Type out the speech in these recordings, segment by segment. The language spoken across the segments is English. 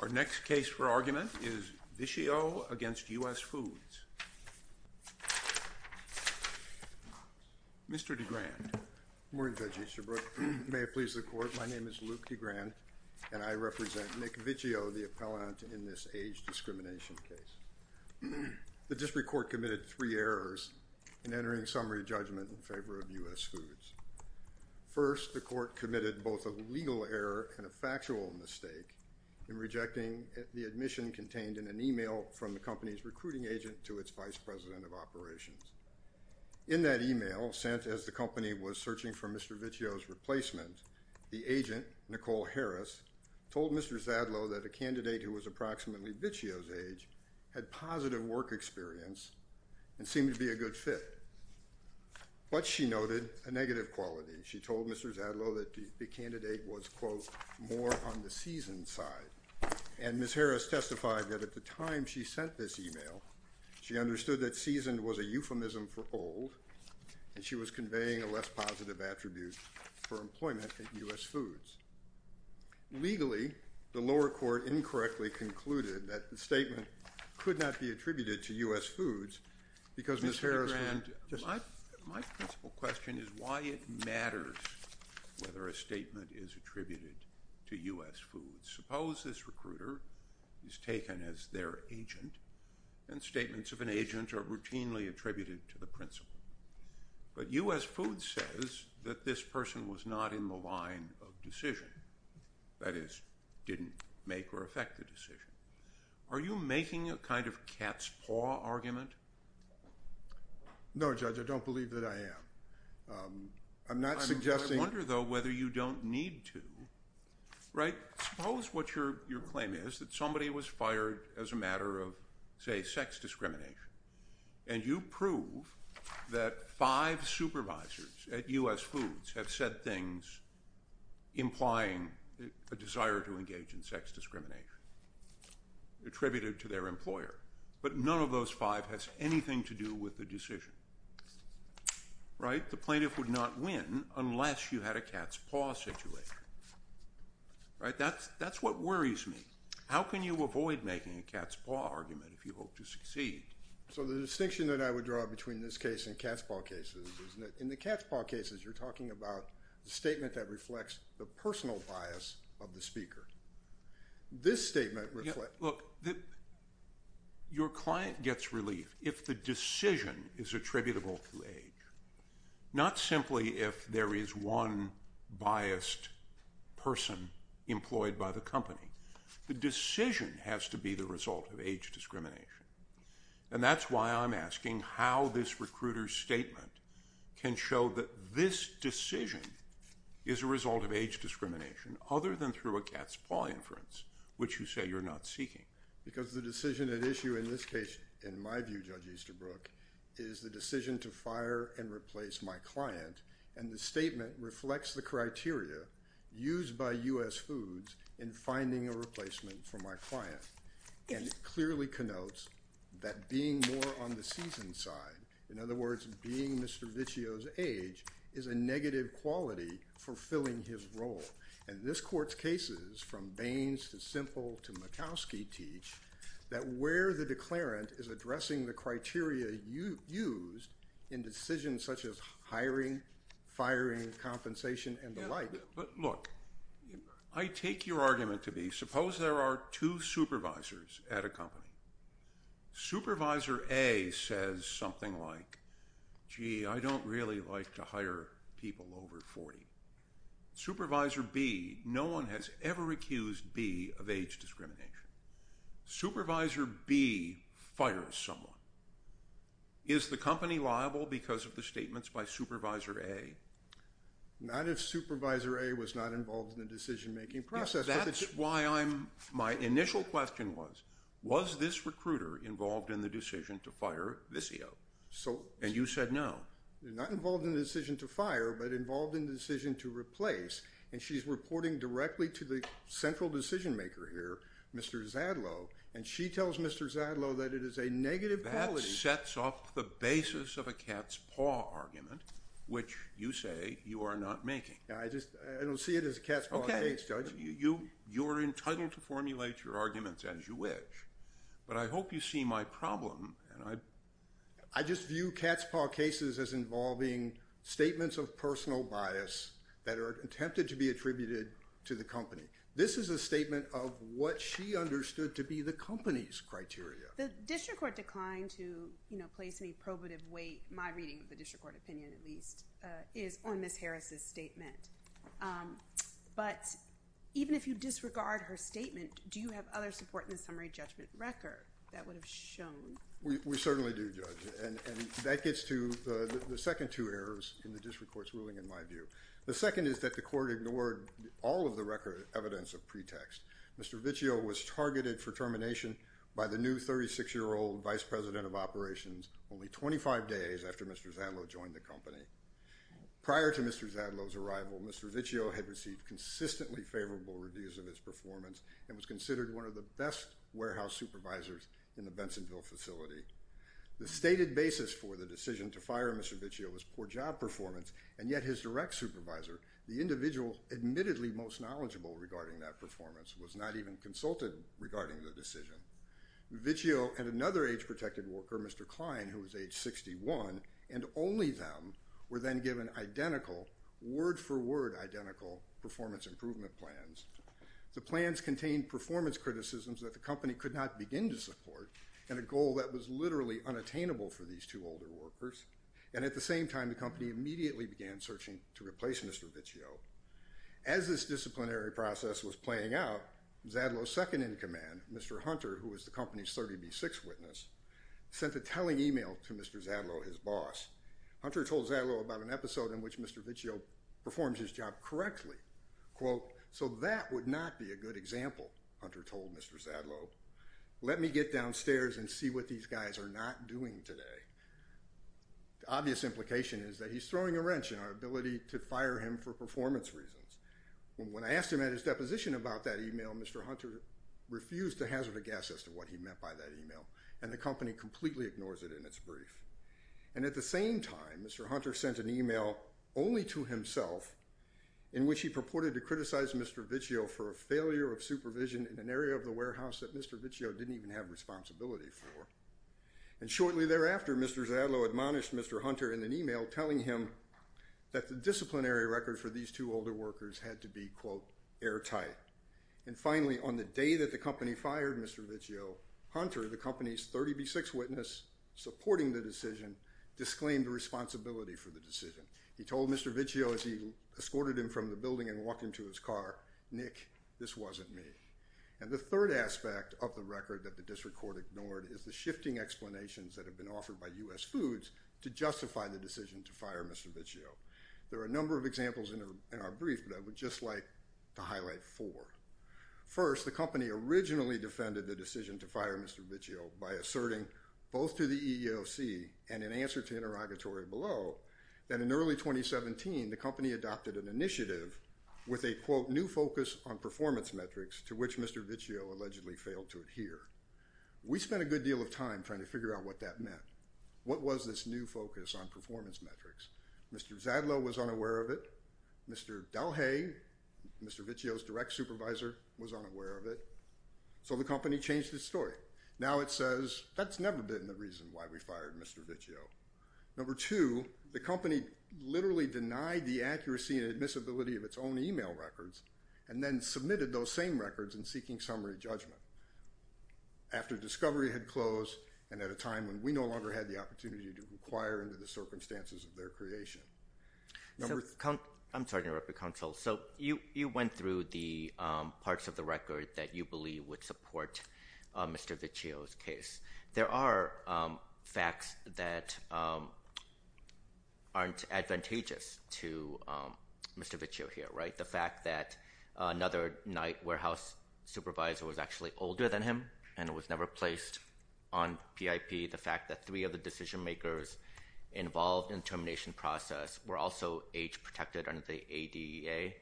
Our next case for argument is Vichio v. US Foods. Mr. DeGrand. Good morning, Judge Easterbrook. May it please the Court, my name is Luke DeGrand, and I represent Nick Vichio, the appellant in this age discrimination case. The District Court committed three errors in entering summary judgment in favor of US Foods. First, the Court committed both a legal error and a factual mistake in rejecting the admission contained in an email from the company's recruiting agent to its vice president of operations. In that email, sent as the company was searching for Mr. Vichio's replacement, the agent, Nicole Harris, told Mr. Zadlow that a candidate who was approximately Vichio's age had positive work experience and seemed to be a good fit. But she noted a negative quality. She told Mr. Zadlow that the candidate was, quote, more on the seasoned side. And Ms. Harris testified that at the time she sent this email, she understood that seasoned was a euphemism for old, and she was conveying a less positive attribute for employment at US Foods. Legally, the lower court incorrectly concluded that the statement could not be attributed to US Foods because Ms. Harris was just... Mr. DeGrand, my principal question is why it matters whether a statement is attributed to US Foods. Suppose this recruiter is taken as their agent, and statements of an agent are routinely attributed to the principal. But US Foods says that this person was not in the line of decision, that is, didn't make or affect the decision. Are you making a kind of cat's paw argument? No, Judge, I don't believe that I am. I'm not suggesting... I wonder, though, whether you don't need to, right? Suppose what your claim is, that somebody was fired as a matter of, say, sex discrimination, and you prove that five supervisors at US Foods have said things implying a desire to engage in sex discrimination. Attributed to their employer. But none of those five has anything to do with the decision, right? The plaintiff would not win unless you had a cat's paw situation, right? That's what worries me. How can you avoid making a cat's paw argument if you hope to succeed? So the distinction that I would draw between this case and cat's paw cases is that in the cat's paw cases, you're talking about the statement that reflects the personal bias of the speaker. This statement reflects... Look, your client gets relief if the decision is attributable to age. Not simply if there is one biased person employed by the company. The decision has to be the result of age discrimination. And that's why I'm asking how this recruiter's statement can show that this decision is a cat's paw inference, which you say you're not seeking. Because the decision at issue in this case, in my view, Judge Easterbrook, is the decision to fire and replace my client, and the statement reflects the criteria used by US Foods in finding a replacement for my client. And it clearly connotes that being more on the seasoned side, in other words, being Mr. Vicio's age, is a negative quality for filling his role. And this court's cases, from Baines to Simple to Murkowski, teach that where the declarant is addressing the criteria used in decisions such as hiring, firing, compensation, and the like... But look, I take your argument to be, suppose there are two supervisors at a company. Supervisor A says something like, gee, I don't really like to hire people over 40. Supervisor B, no one has ever accused B of age discrimination. Supervisor B fires someone. Is the company liable because of the statements by Supervisor A? Not if Supervisor A was not involved in the decision-making process. That's why my initial question was, was this recruiter involved in the decision to fire Vicio? And you said no. Not involved in the decision to fire, but involved in the decision to replace. And she's reporting directly to the central decision-maker here, Mr. Zadlow. And she tells Mr. Zadlow that it is a negative quality. That sets off the basis of a cat's paw argument, which you say you are not making. I don't see it as a cat's paw case, Judge. You're entitled to formulate your arguments as you wish. But I hope you see my problem. I just view cat's paw cases as involving statements of personal bias that are attempted to be attributed to the company. This is a statement of what she understood to be the company's criteria. The district court declined to place any probative weight, my reading of the district court opinion at least, is on Ms. Harris' statement. But even if you disregard her statement, do you have other support in the summary judgment record that would have shown? We certainly do, Judge. And that gets to the second two errors in the district court's ruling, in my view. The second is that the court ignored all of the record evidence of pretext. Mr. Vicio was targeted for termination by the new 36-year-old vice president of operations only 25 days after Mr. Zadlow joined the company. Prior to Mr. Zadlow's arrival, Mr. Vicio had received consistently favorable reviews of his performance and was considered one of the best warehouse supervisors in the Bensonville facility. The stated basis for the decision to fire Mr. Vicio was poor job performance, and yet his direct supervisor, the individual admittedly most knowledgeable regarding that performance, was not even consulted regarding the decision. Vicio and another age-protected worker, Mr. Klein, who was age 61, and only them, were then given identical, word-for-word identical performance improvement plans. The plans contained performance criticisms that the company could not begin to support, and a goal that was literally unattainable for these two older workers. And at the same time, the company immediately began searching to replace Mr. Vicio. As this disciplinary process was playing out, Zadlow's second-in-command, Mr. Hunter, who was the company's 30B6 witness, sent a telling email to Mr. Zadlow, his boss. Hunter told Zadlow about an episode in which Mr. Vicio performs his job correctly. Quote, so that would not be a good example, Hunter told Mr. Zadlow. Let me get downstairs and see what these guys are not doing today. The obvious implication is that he's throwing a wrench in our ability to fire him for performance reasons. When I asked him at his deposition about that email, Mr. Hunter refused to hazard a guess as to what he meant by that email, and the company completely ignores it in its brief. And at the same time, Mr. Hunter sent an email only to himself, in which he purported to criticize Mr. Vicio for a failure of supervision in an area of the warehouse that Mr. Vicio didn't even have responsibility for. And shortly thereafter, Mr. Zadlow admonished Mr. Hunter in an email telling him that the disciplinary record for these two older workers had to be, quote, airtight. And finally, on the day that the company fired Mr. Vicio, Hunter, the company's 30B6 witness, supporting the decision, disclaimed responsibility for the decision. He told Mr. Vicio as he escorted him from the building and walked into his car, Nick, this wasn't me. And the third aspect of the record that the district court ignored is the shifting explanations that have been offered by U.S. Foods to justify the decision to fire Mr. Vicio. There are a number of examples in our brief, but I would just like to highlight four. First, the company originally defended the decision to fire Mr. Vicio by asserting, both to the EEOC and in answer to interrogatory below, that in early 2017, the company adopted an initiative with a, quote, new focus on performance metrics to which Mr. Vicio allegedly failed to adhere. We spent a good deal of time trying to figure out what that meant. What was this new focus on performance metrics? Mr. Zadlow was unaware of it. Mr. Dalhay, Mr. Vicio's direct supervisor, was unaware of it. So the company changed its story. Now it says, that's never been the reason why we fired Mr. Vicio. Number two, the company literally denied the accuracy and admissibility of its own e-mail records and then submitted those same records in seeking summary judgment after discovery had closed and at a time when we no longer had the opportunity to inquire into the circumstances of their creation. I'm sorry to interrupt you, counsel. So you went through the parts of the record that you believe would support Mr. Vicio's case. There are facts that aren't advantageous to Mr. Vicio here, right? The fact that another Knight Warehouse supervisor was actually older than him and was never placed on PIP, the fact that three of the decision makers involved in the termination process were also age-protected under the ADEA,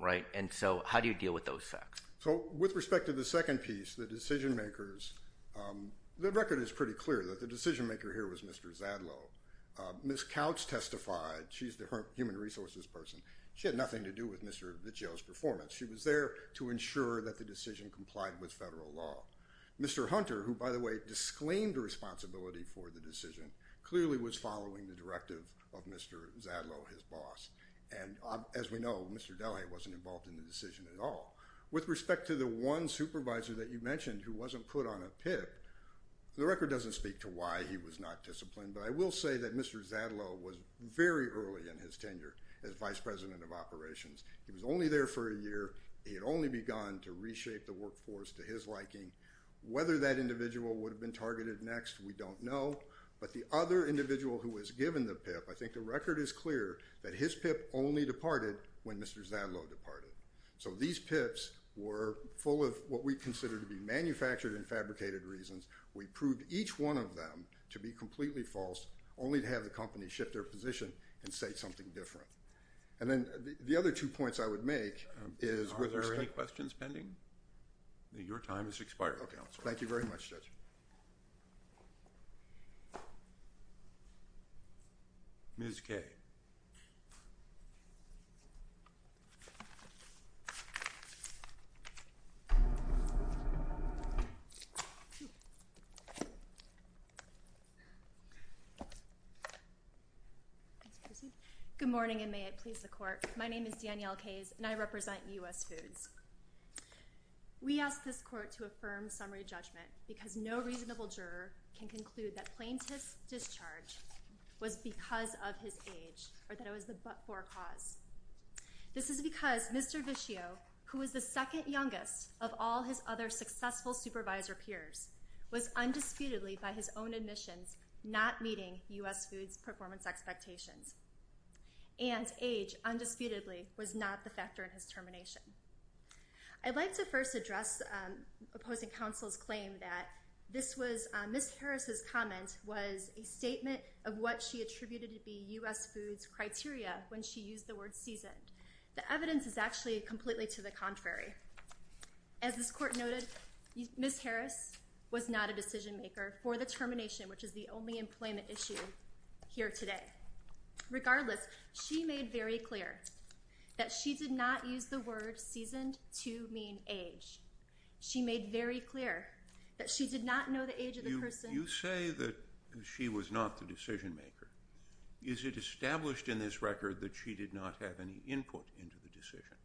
right? And so how do you deal with those facts? So with respect to the second piece, the decision makers, the record is pretty clear that the decision maker here was Mr. Zadlow. Ms. Couch testified. She's the human resources person. She had nothing to do with Mr. Vicio's performance. She was there to ensure that the decision complied with federal law. Mr. Hunter, who, by the way, disclaimed responsibility for the decision, clearly was following the directive of Mr. Zadlow, his boss. And as we know, Mr. Delahaye wasn't involved in the decision at all. With respect to the one supervisor that you mentioned who wasn't put on a PIP, the record doesn't speak to why he was not disciplined, but I will say that Mr. Zadlow was very early in his tenure as vice president of operations. He was only there for a year. He had only begun to reshape the workforce to his liking. Whether that individual would have been targeted next, we don't know. But the other individual who was given the PIP, I think the record is clear that his PIP only departed when Mr. Zadlow departed. So these PIPs were full of what we consider to be manufactured and fabricated reasons. We proved each one of them to be completely false, only to have the company shift their position and say something different. And then the other two points I would make is— Are there any questions pending? Your time has expired. Thank you very much, Judge. Ms. Kay. Good morning, and may it please the Court. My name is Danielle Kayes, and I represent U.S. Foods. We ask this Court to affirm summary judgment, because no reasonable juror can conclude that plaintiff's discharge was because of his age, or that it was the but-for cause. This is because Mr. Vischio, who was the second youngest of all his other successful supervisor peers, was undisputedly, by his own admissions, not meeting U.S. Foods' performance expectations. And age, undisputedly, was not the factor in his termination. I'd like to first address opposing counsel's claim that this was— Ms. Harris's comment was a statement of what she attributed to be U.S. Foods' criteria when she used the word seasoned. The evidence is actually completely to the contrary. As this Court noted, Ms. Harris was not a decision-maker for the termination, which is the only employment issue here today. Regardless, she made very clear that she did not use the word seasoned to mean age. She made very clear that she did not know the age of the person— You say that she was not the decision-maker. Is it established in this record that she did not have any input into the decision?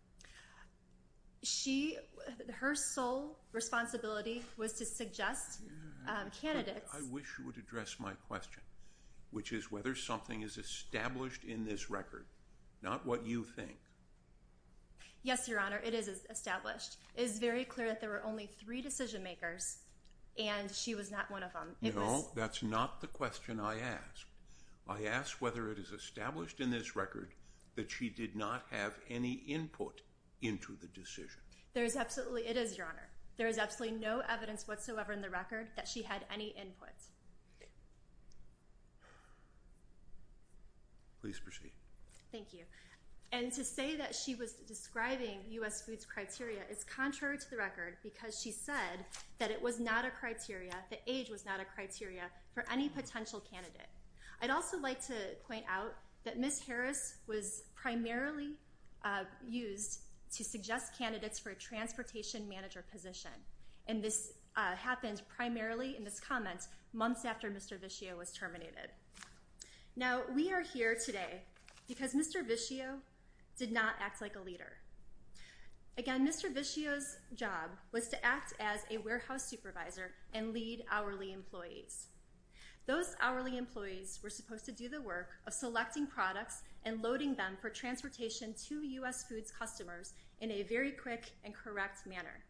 She—her sole responsibility was to suggest candidates— I wish you would address my question, which is whether something is established in this record, not what you think. Yes, Your Honor, it is established. It is very clear that there were only three decision-makers, and she was not one of them. No, that's not the question I asked. I asked whether it is established in this record that she did not have any input into the decision. There is absolutely—it is, Your Honor. There is absolutely no evidence whatsoever in the record that she had any input. Please proceed. Thank you. And to say that she was describing U.S. foods criteria is contrary to the record because she said that it was not a criteria, that age was not a criteria, for any potential candidate. I'd also like to point out that Ms. Harris was primarily used to suggest candidates for a transportation manager position, and this happened primarily in this comment months after Mr. Vischio was terminated. Now, we are here today because Mr. Vischio did not act like a leader. Again, Mr. Vischio's job was to act as a warehouse supervisor and lead hourly employees. Those hourly employees were supposed to do the work of selecting products and loading them for transportation to U.S. foods customers in a very quick and correct manner.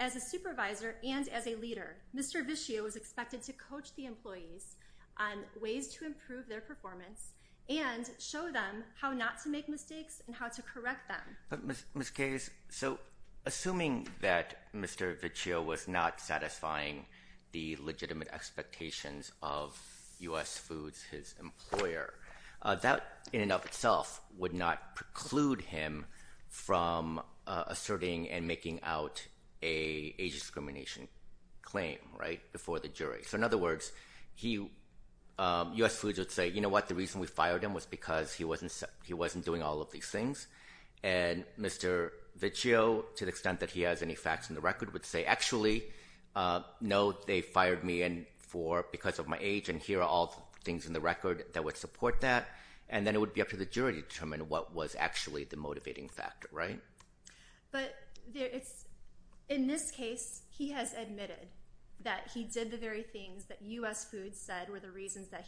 As a supervisor and as a leader, Mr. Vischio was expected to coach the employees on ways to improve their performance and show them how not to make mistakes and how to correct them. Ms. Case, so assuming that Mr. Vischio was not satisfying the legitimate expectations of U.S. foods, his employer, that in and of itself would not preclude him from asserting and making out an age discrimination claim, right, before the jury. So in other words, U.S. foods would say, you know what, the reason we fired him was because he wasn't doing all of these things, and Mr. Vischio, to the extent that he has any facts in the record, would say, no, they fired me because of my age, and here are all the things in the record that would support that, and then it would be up to the jury to determine what was actually the motivating factor, right? But in this case, he has admitted that he did the very things that U.S. foods said were the reasons that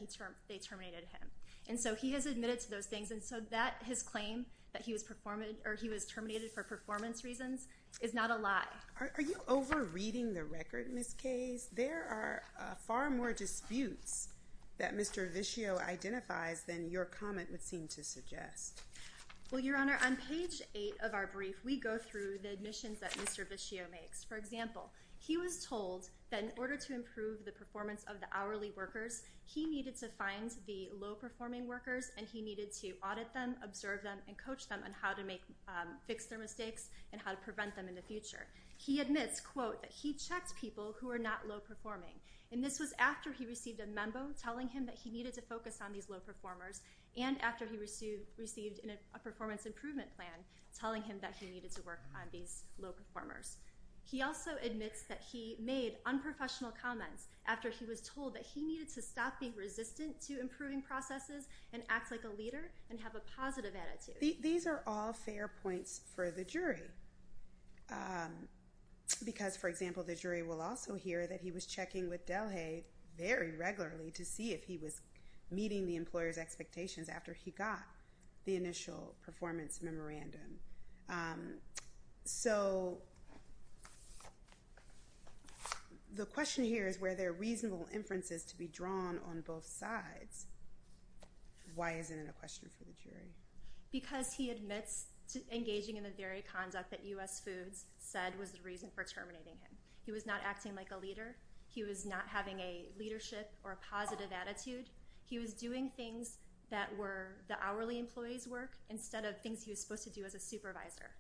they terminated him. And so he has admitted to those things, and so his claim that he was terminated for performance reasons is not a lie. Are you over-reading the record, Ms. Case? There are far more disputes that Mr. Vischio identifies than your comment would seem to suggest. Well, Your Honor, on page 8 of our brief, we go through the admissions that Mr. Vischio makes. For example, he was told that in order to improve the performance of the hourly workers, he needed to find the low-performing workers, and he needed to audit them, observe them, and coach them on how to fix their mistakes and how to prevent them in the future. He admits, quote, that he checked people who were not low-performing, and this was after he received a memo telling him that he needed to focus on these low-performers, and after he received a performance improvement plan telling him that he needed to work on these low-performers. He also admits that he made unprofessional comments after he was told that he needed to stop being resistant to improving processes and act like a leader and have a positive attitude. These are all fair points for the jury because, for example, the jury will also hear that he was checking with Delhay very regularly to see if he was meeting the employer's expectations after he got the initial performance memorandum. So the question here is where there are reasonable inferences to be drawn on both sides. Why isn't it a question for the jury? Because he admits engaging in the very conduct that U.S. Foods said was the reason for terminating him. He was not acting like a leader. He was not having a leadership or a positive attitude. He was doing things that were the hourly employee's work instead of things he was supposed to do as a supervisor,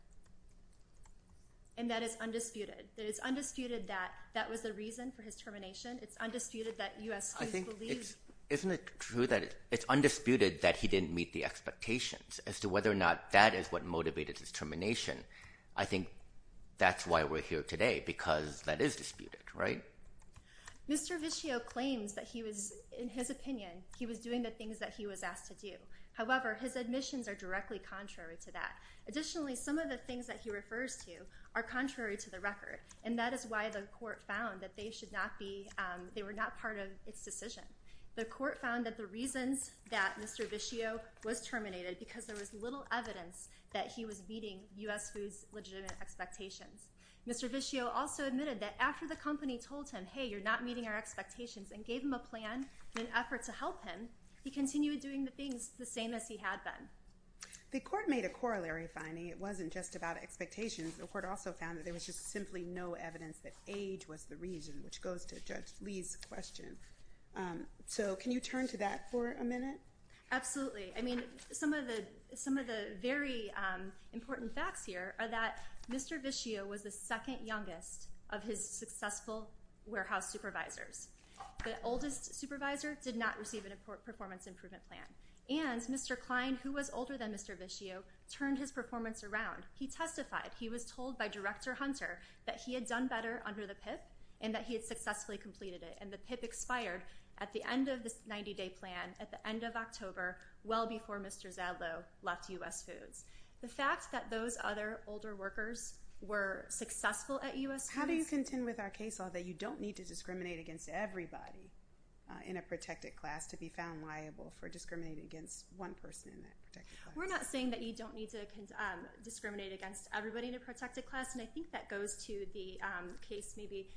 and that is undisputed. It is undisputed that that was the reason for his termination. It's undisputed that U.S. Foods believed— Isn't it true that it's undisputed that he didn't meet the expectations as to whether or not that is what motivated his termination? I think that's why we're here today because that is disputed, right? Mr. Vischio claims that he was—in his opinion, he was doing the things that he was asked to do. However, his admissions are directly contrary to that. Additionally, some of the things that he refers to are contrary to the record, and that is why the court found that they should not be—they were not part of its decision. The court found that the reasons that Mr. Vischio was terminated because there was little evidence that he was meeting U.S. Foods' legitimate expectations. Mr. Vischio also admitted that after the company told him, hey, you're not meeting our expectations and gave him a plan in an effort to help him, he continued doing the things the same as he had been. The court made a corollary finding. It wasn't just about expectations. The court also found that there was just simply no evidence that age was the reason, which goes to Judge Lee's question. So can you turn to that for a minute? Absolutely. I mean, some of the very important facts here are that Mr. Vischio was the second youngest of his successful warehouse supervisors. The oldest supervisor did not receive a performance improvement plan, and Mr. Klein, who was older than Mr. Vischio, turned his performance around. He testified. He was told by Director Hunter that he had done better under the PIP and that he had successfully completed it, and the PIP expired at the end of the 90-day plan at the end of October, well before Mr. Zadlow left U.S. Foods. The fact that those other older workers were successful at U.S. Foods. How do you contend with our case law that you don't need to discriminate against everybody in a protected class to be found liable for discriminating against one person in that protected class? We're not saying that you don't need to discriminate against everybody in a protected class, and I think that goes to the case maybe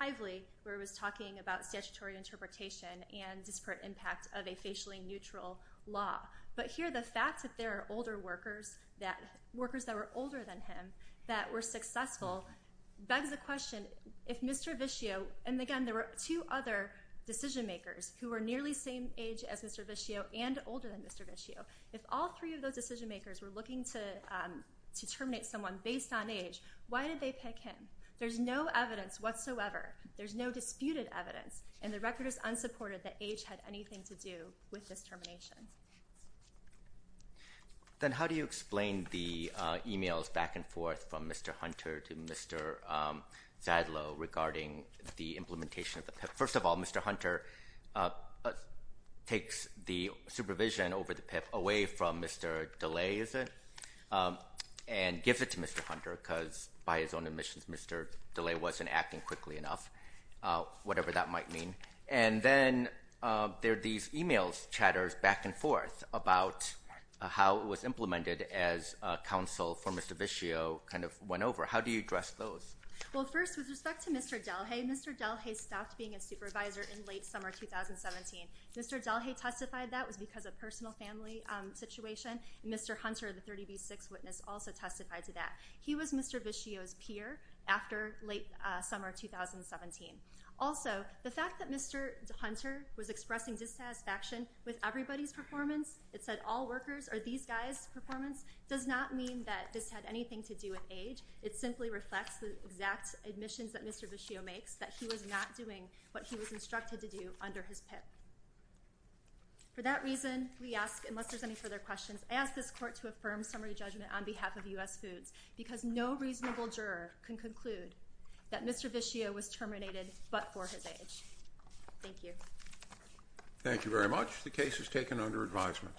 Hively, where it was talking about statutory interpretation and disparate impact of a facially neutral law. But here the fact that there are older workers, workers that were older than him, that were successful, begs the question if Mr. Vischio, and again, there were two other decision makers who were nearly the same age as Mr. Vischio and older than Mr. Vischio. If all three of those decision makers were looking to terminate someone based on age, why did they pick him? There's no evidence whatsoever. There's no disputed evidence, and the record is unsupported that age had anything to do with this termination. Then how do you explain the emails back and forth from Mr. Hunter to Mr. Zadlow regarding the implementation of the PIP? First of all, Mr. Hunter takes the supervision over the PIP away from Mr. DeLay, is it, and gives it to Mr. Hunter because by his own admissions Mr. DeLay wasn't acting quickly enough, whatever that might mean. And then there are these emails, chatters back and forth about how it was implemented as counsel for Mr. Vischio kind of went over. How do you address those? Well, first, with respect to Mr. DeLay, Mr. DeLay stopped being a supervisor in late summer 2017. Mr. DeLay testified that was because of personal family situation, and Mr. Hunter, the 30B6 witness, also testified to that. He was Mr. Vischio's peer after late summer 2017. Also, the fact that Mr. Hunter was expressing dissatisfaction with everybody's performance, it said all workers or these guys' performance, does not mean that this had anything to do with age. It simply reflects the exact admissions that Mr. Vischio makes, that he was not doing what he was instructed to do under his PIP. For that reason, we ask, unless there's any further questions, I ask this court to affirm summary judgment on behalf of U.S. Foods because no reasonable juror can conclude that Mr. Vischio was terminated but for his age. Thank you. Thank you very much. The case is taken under advisement.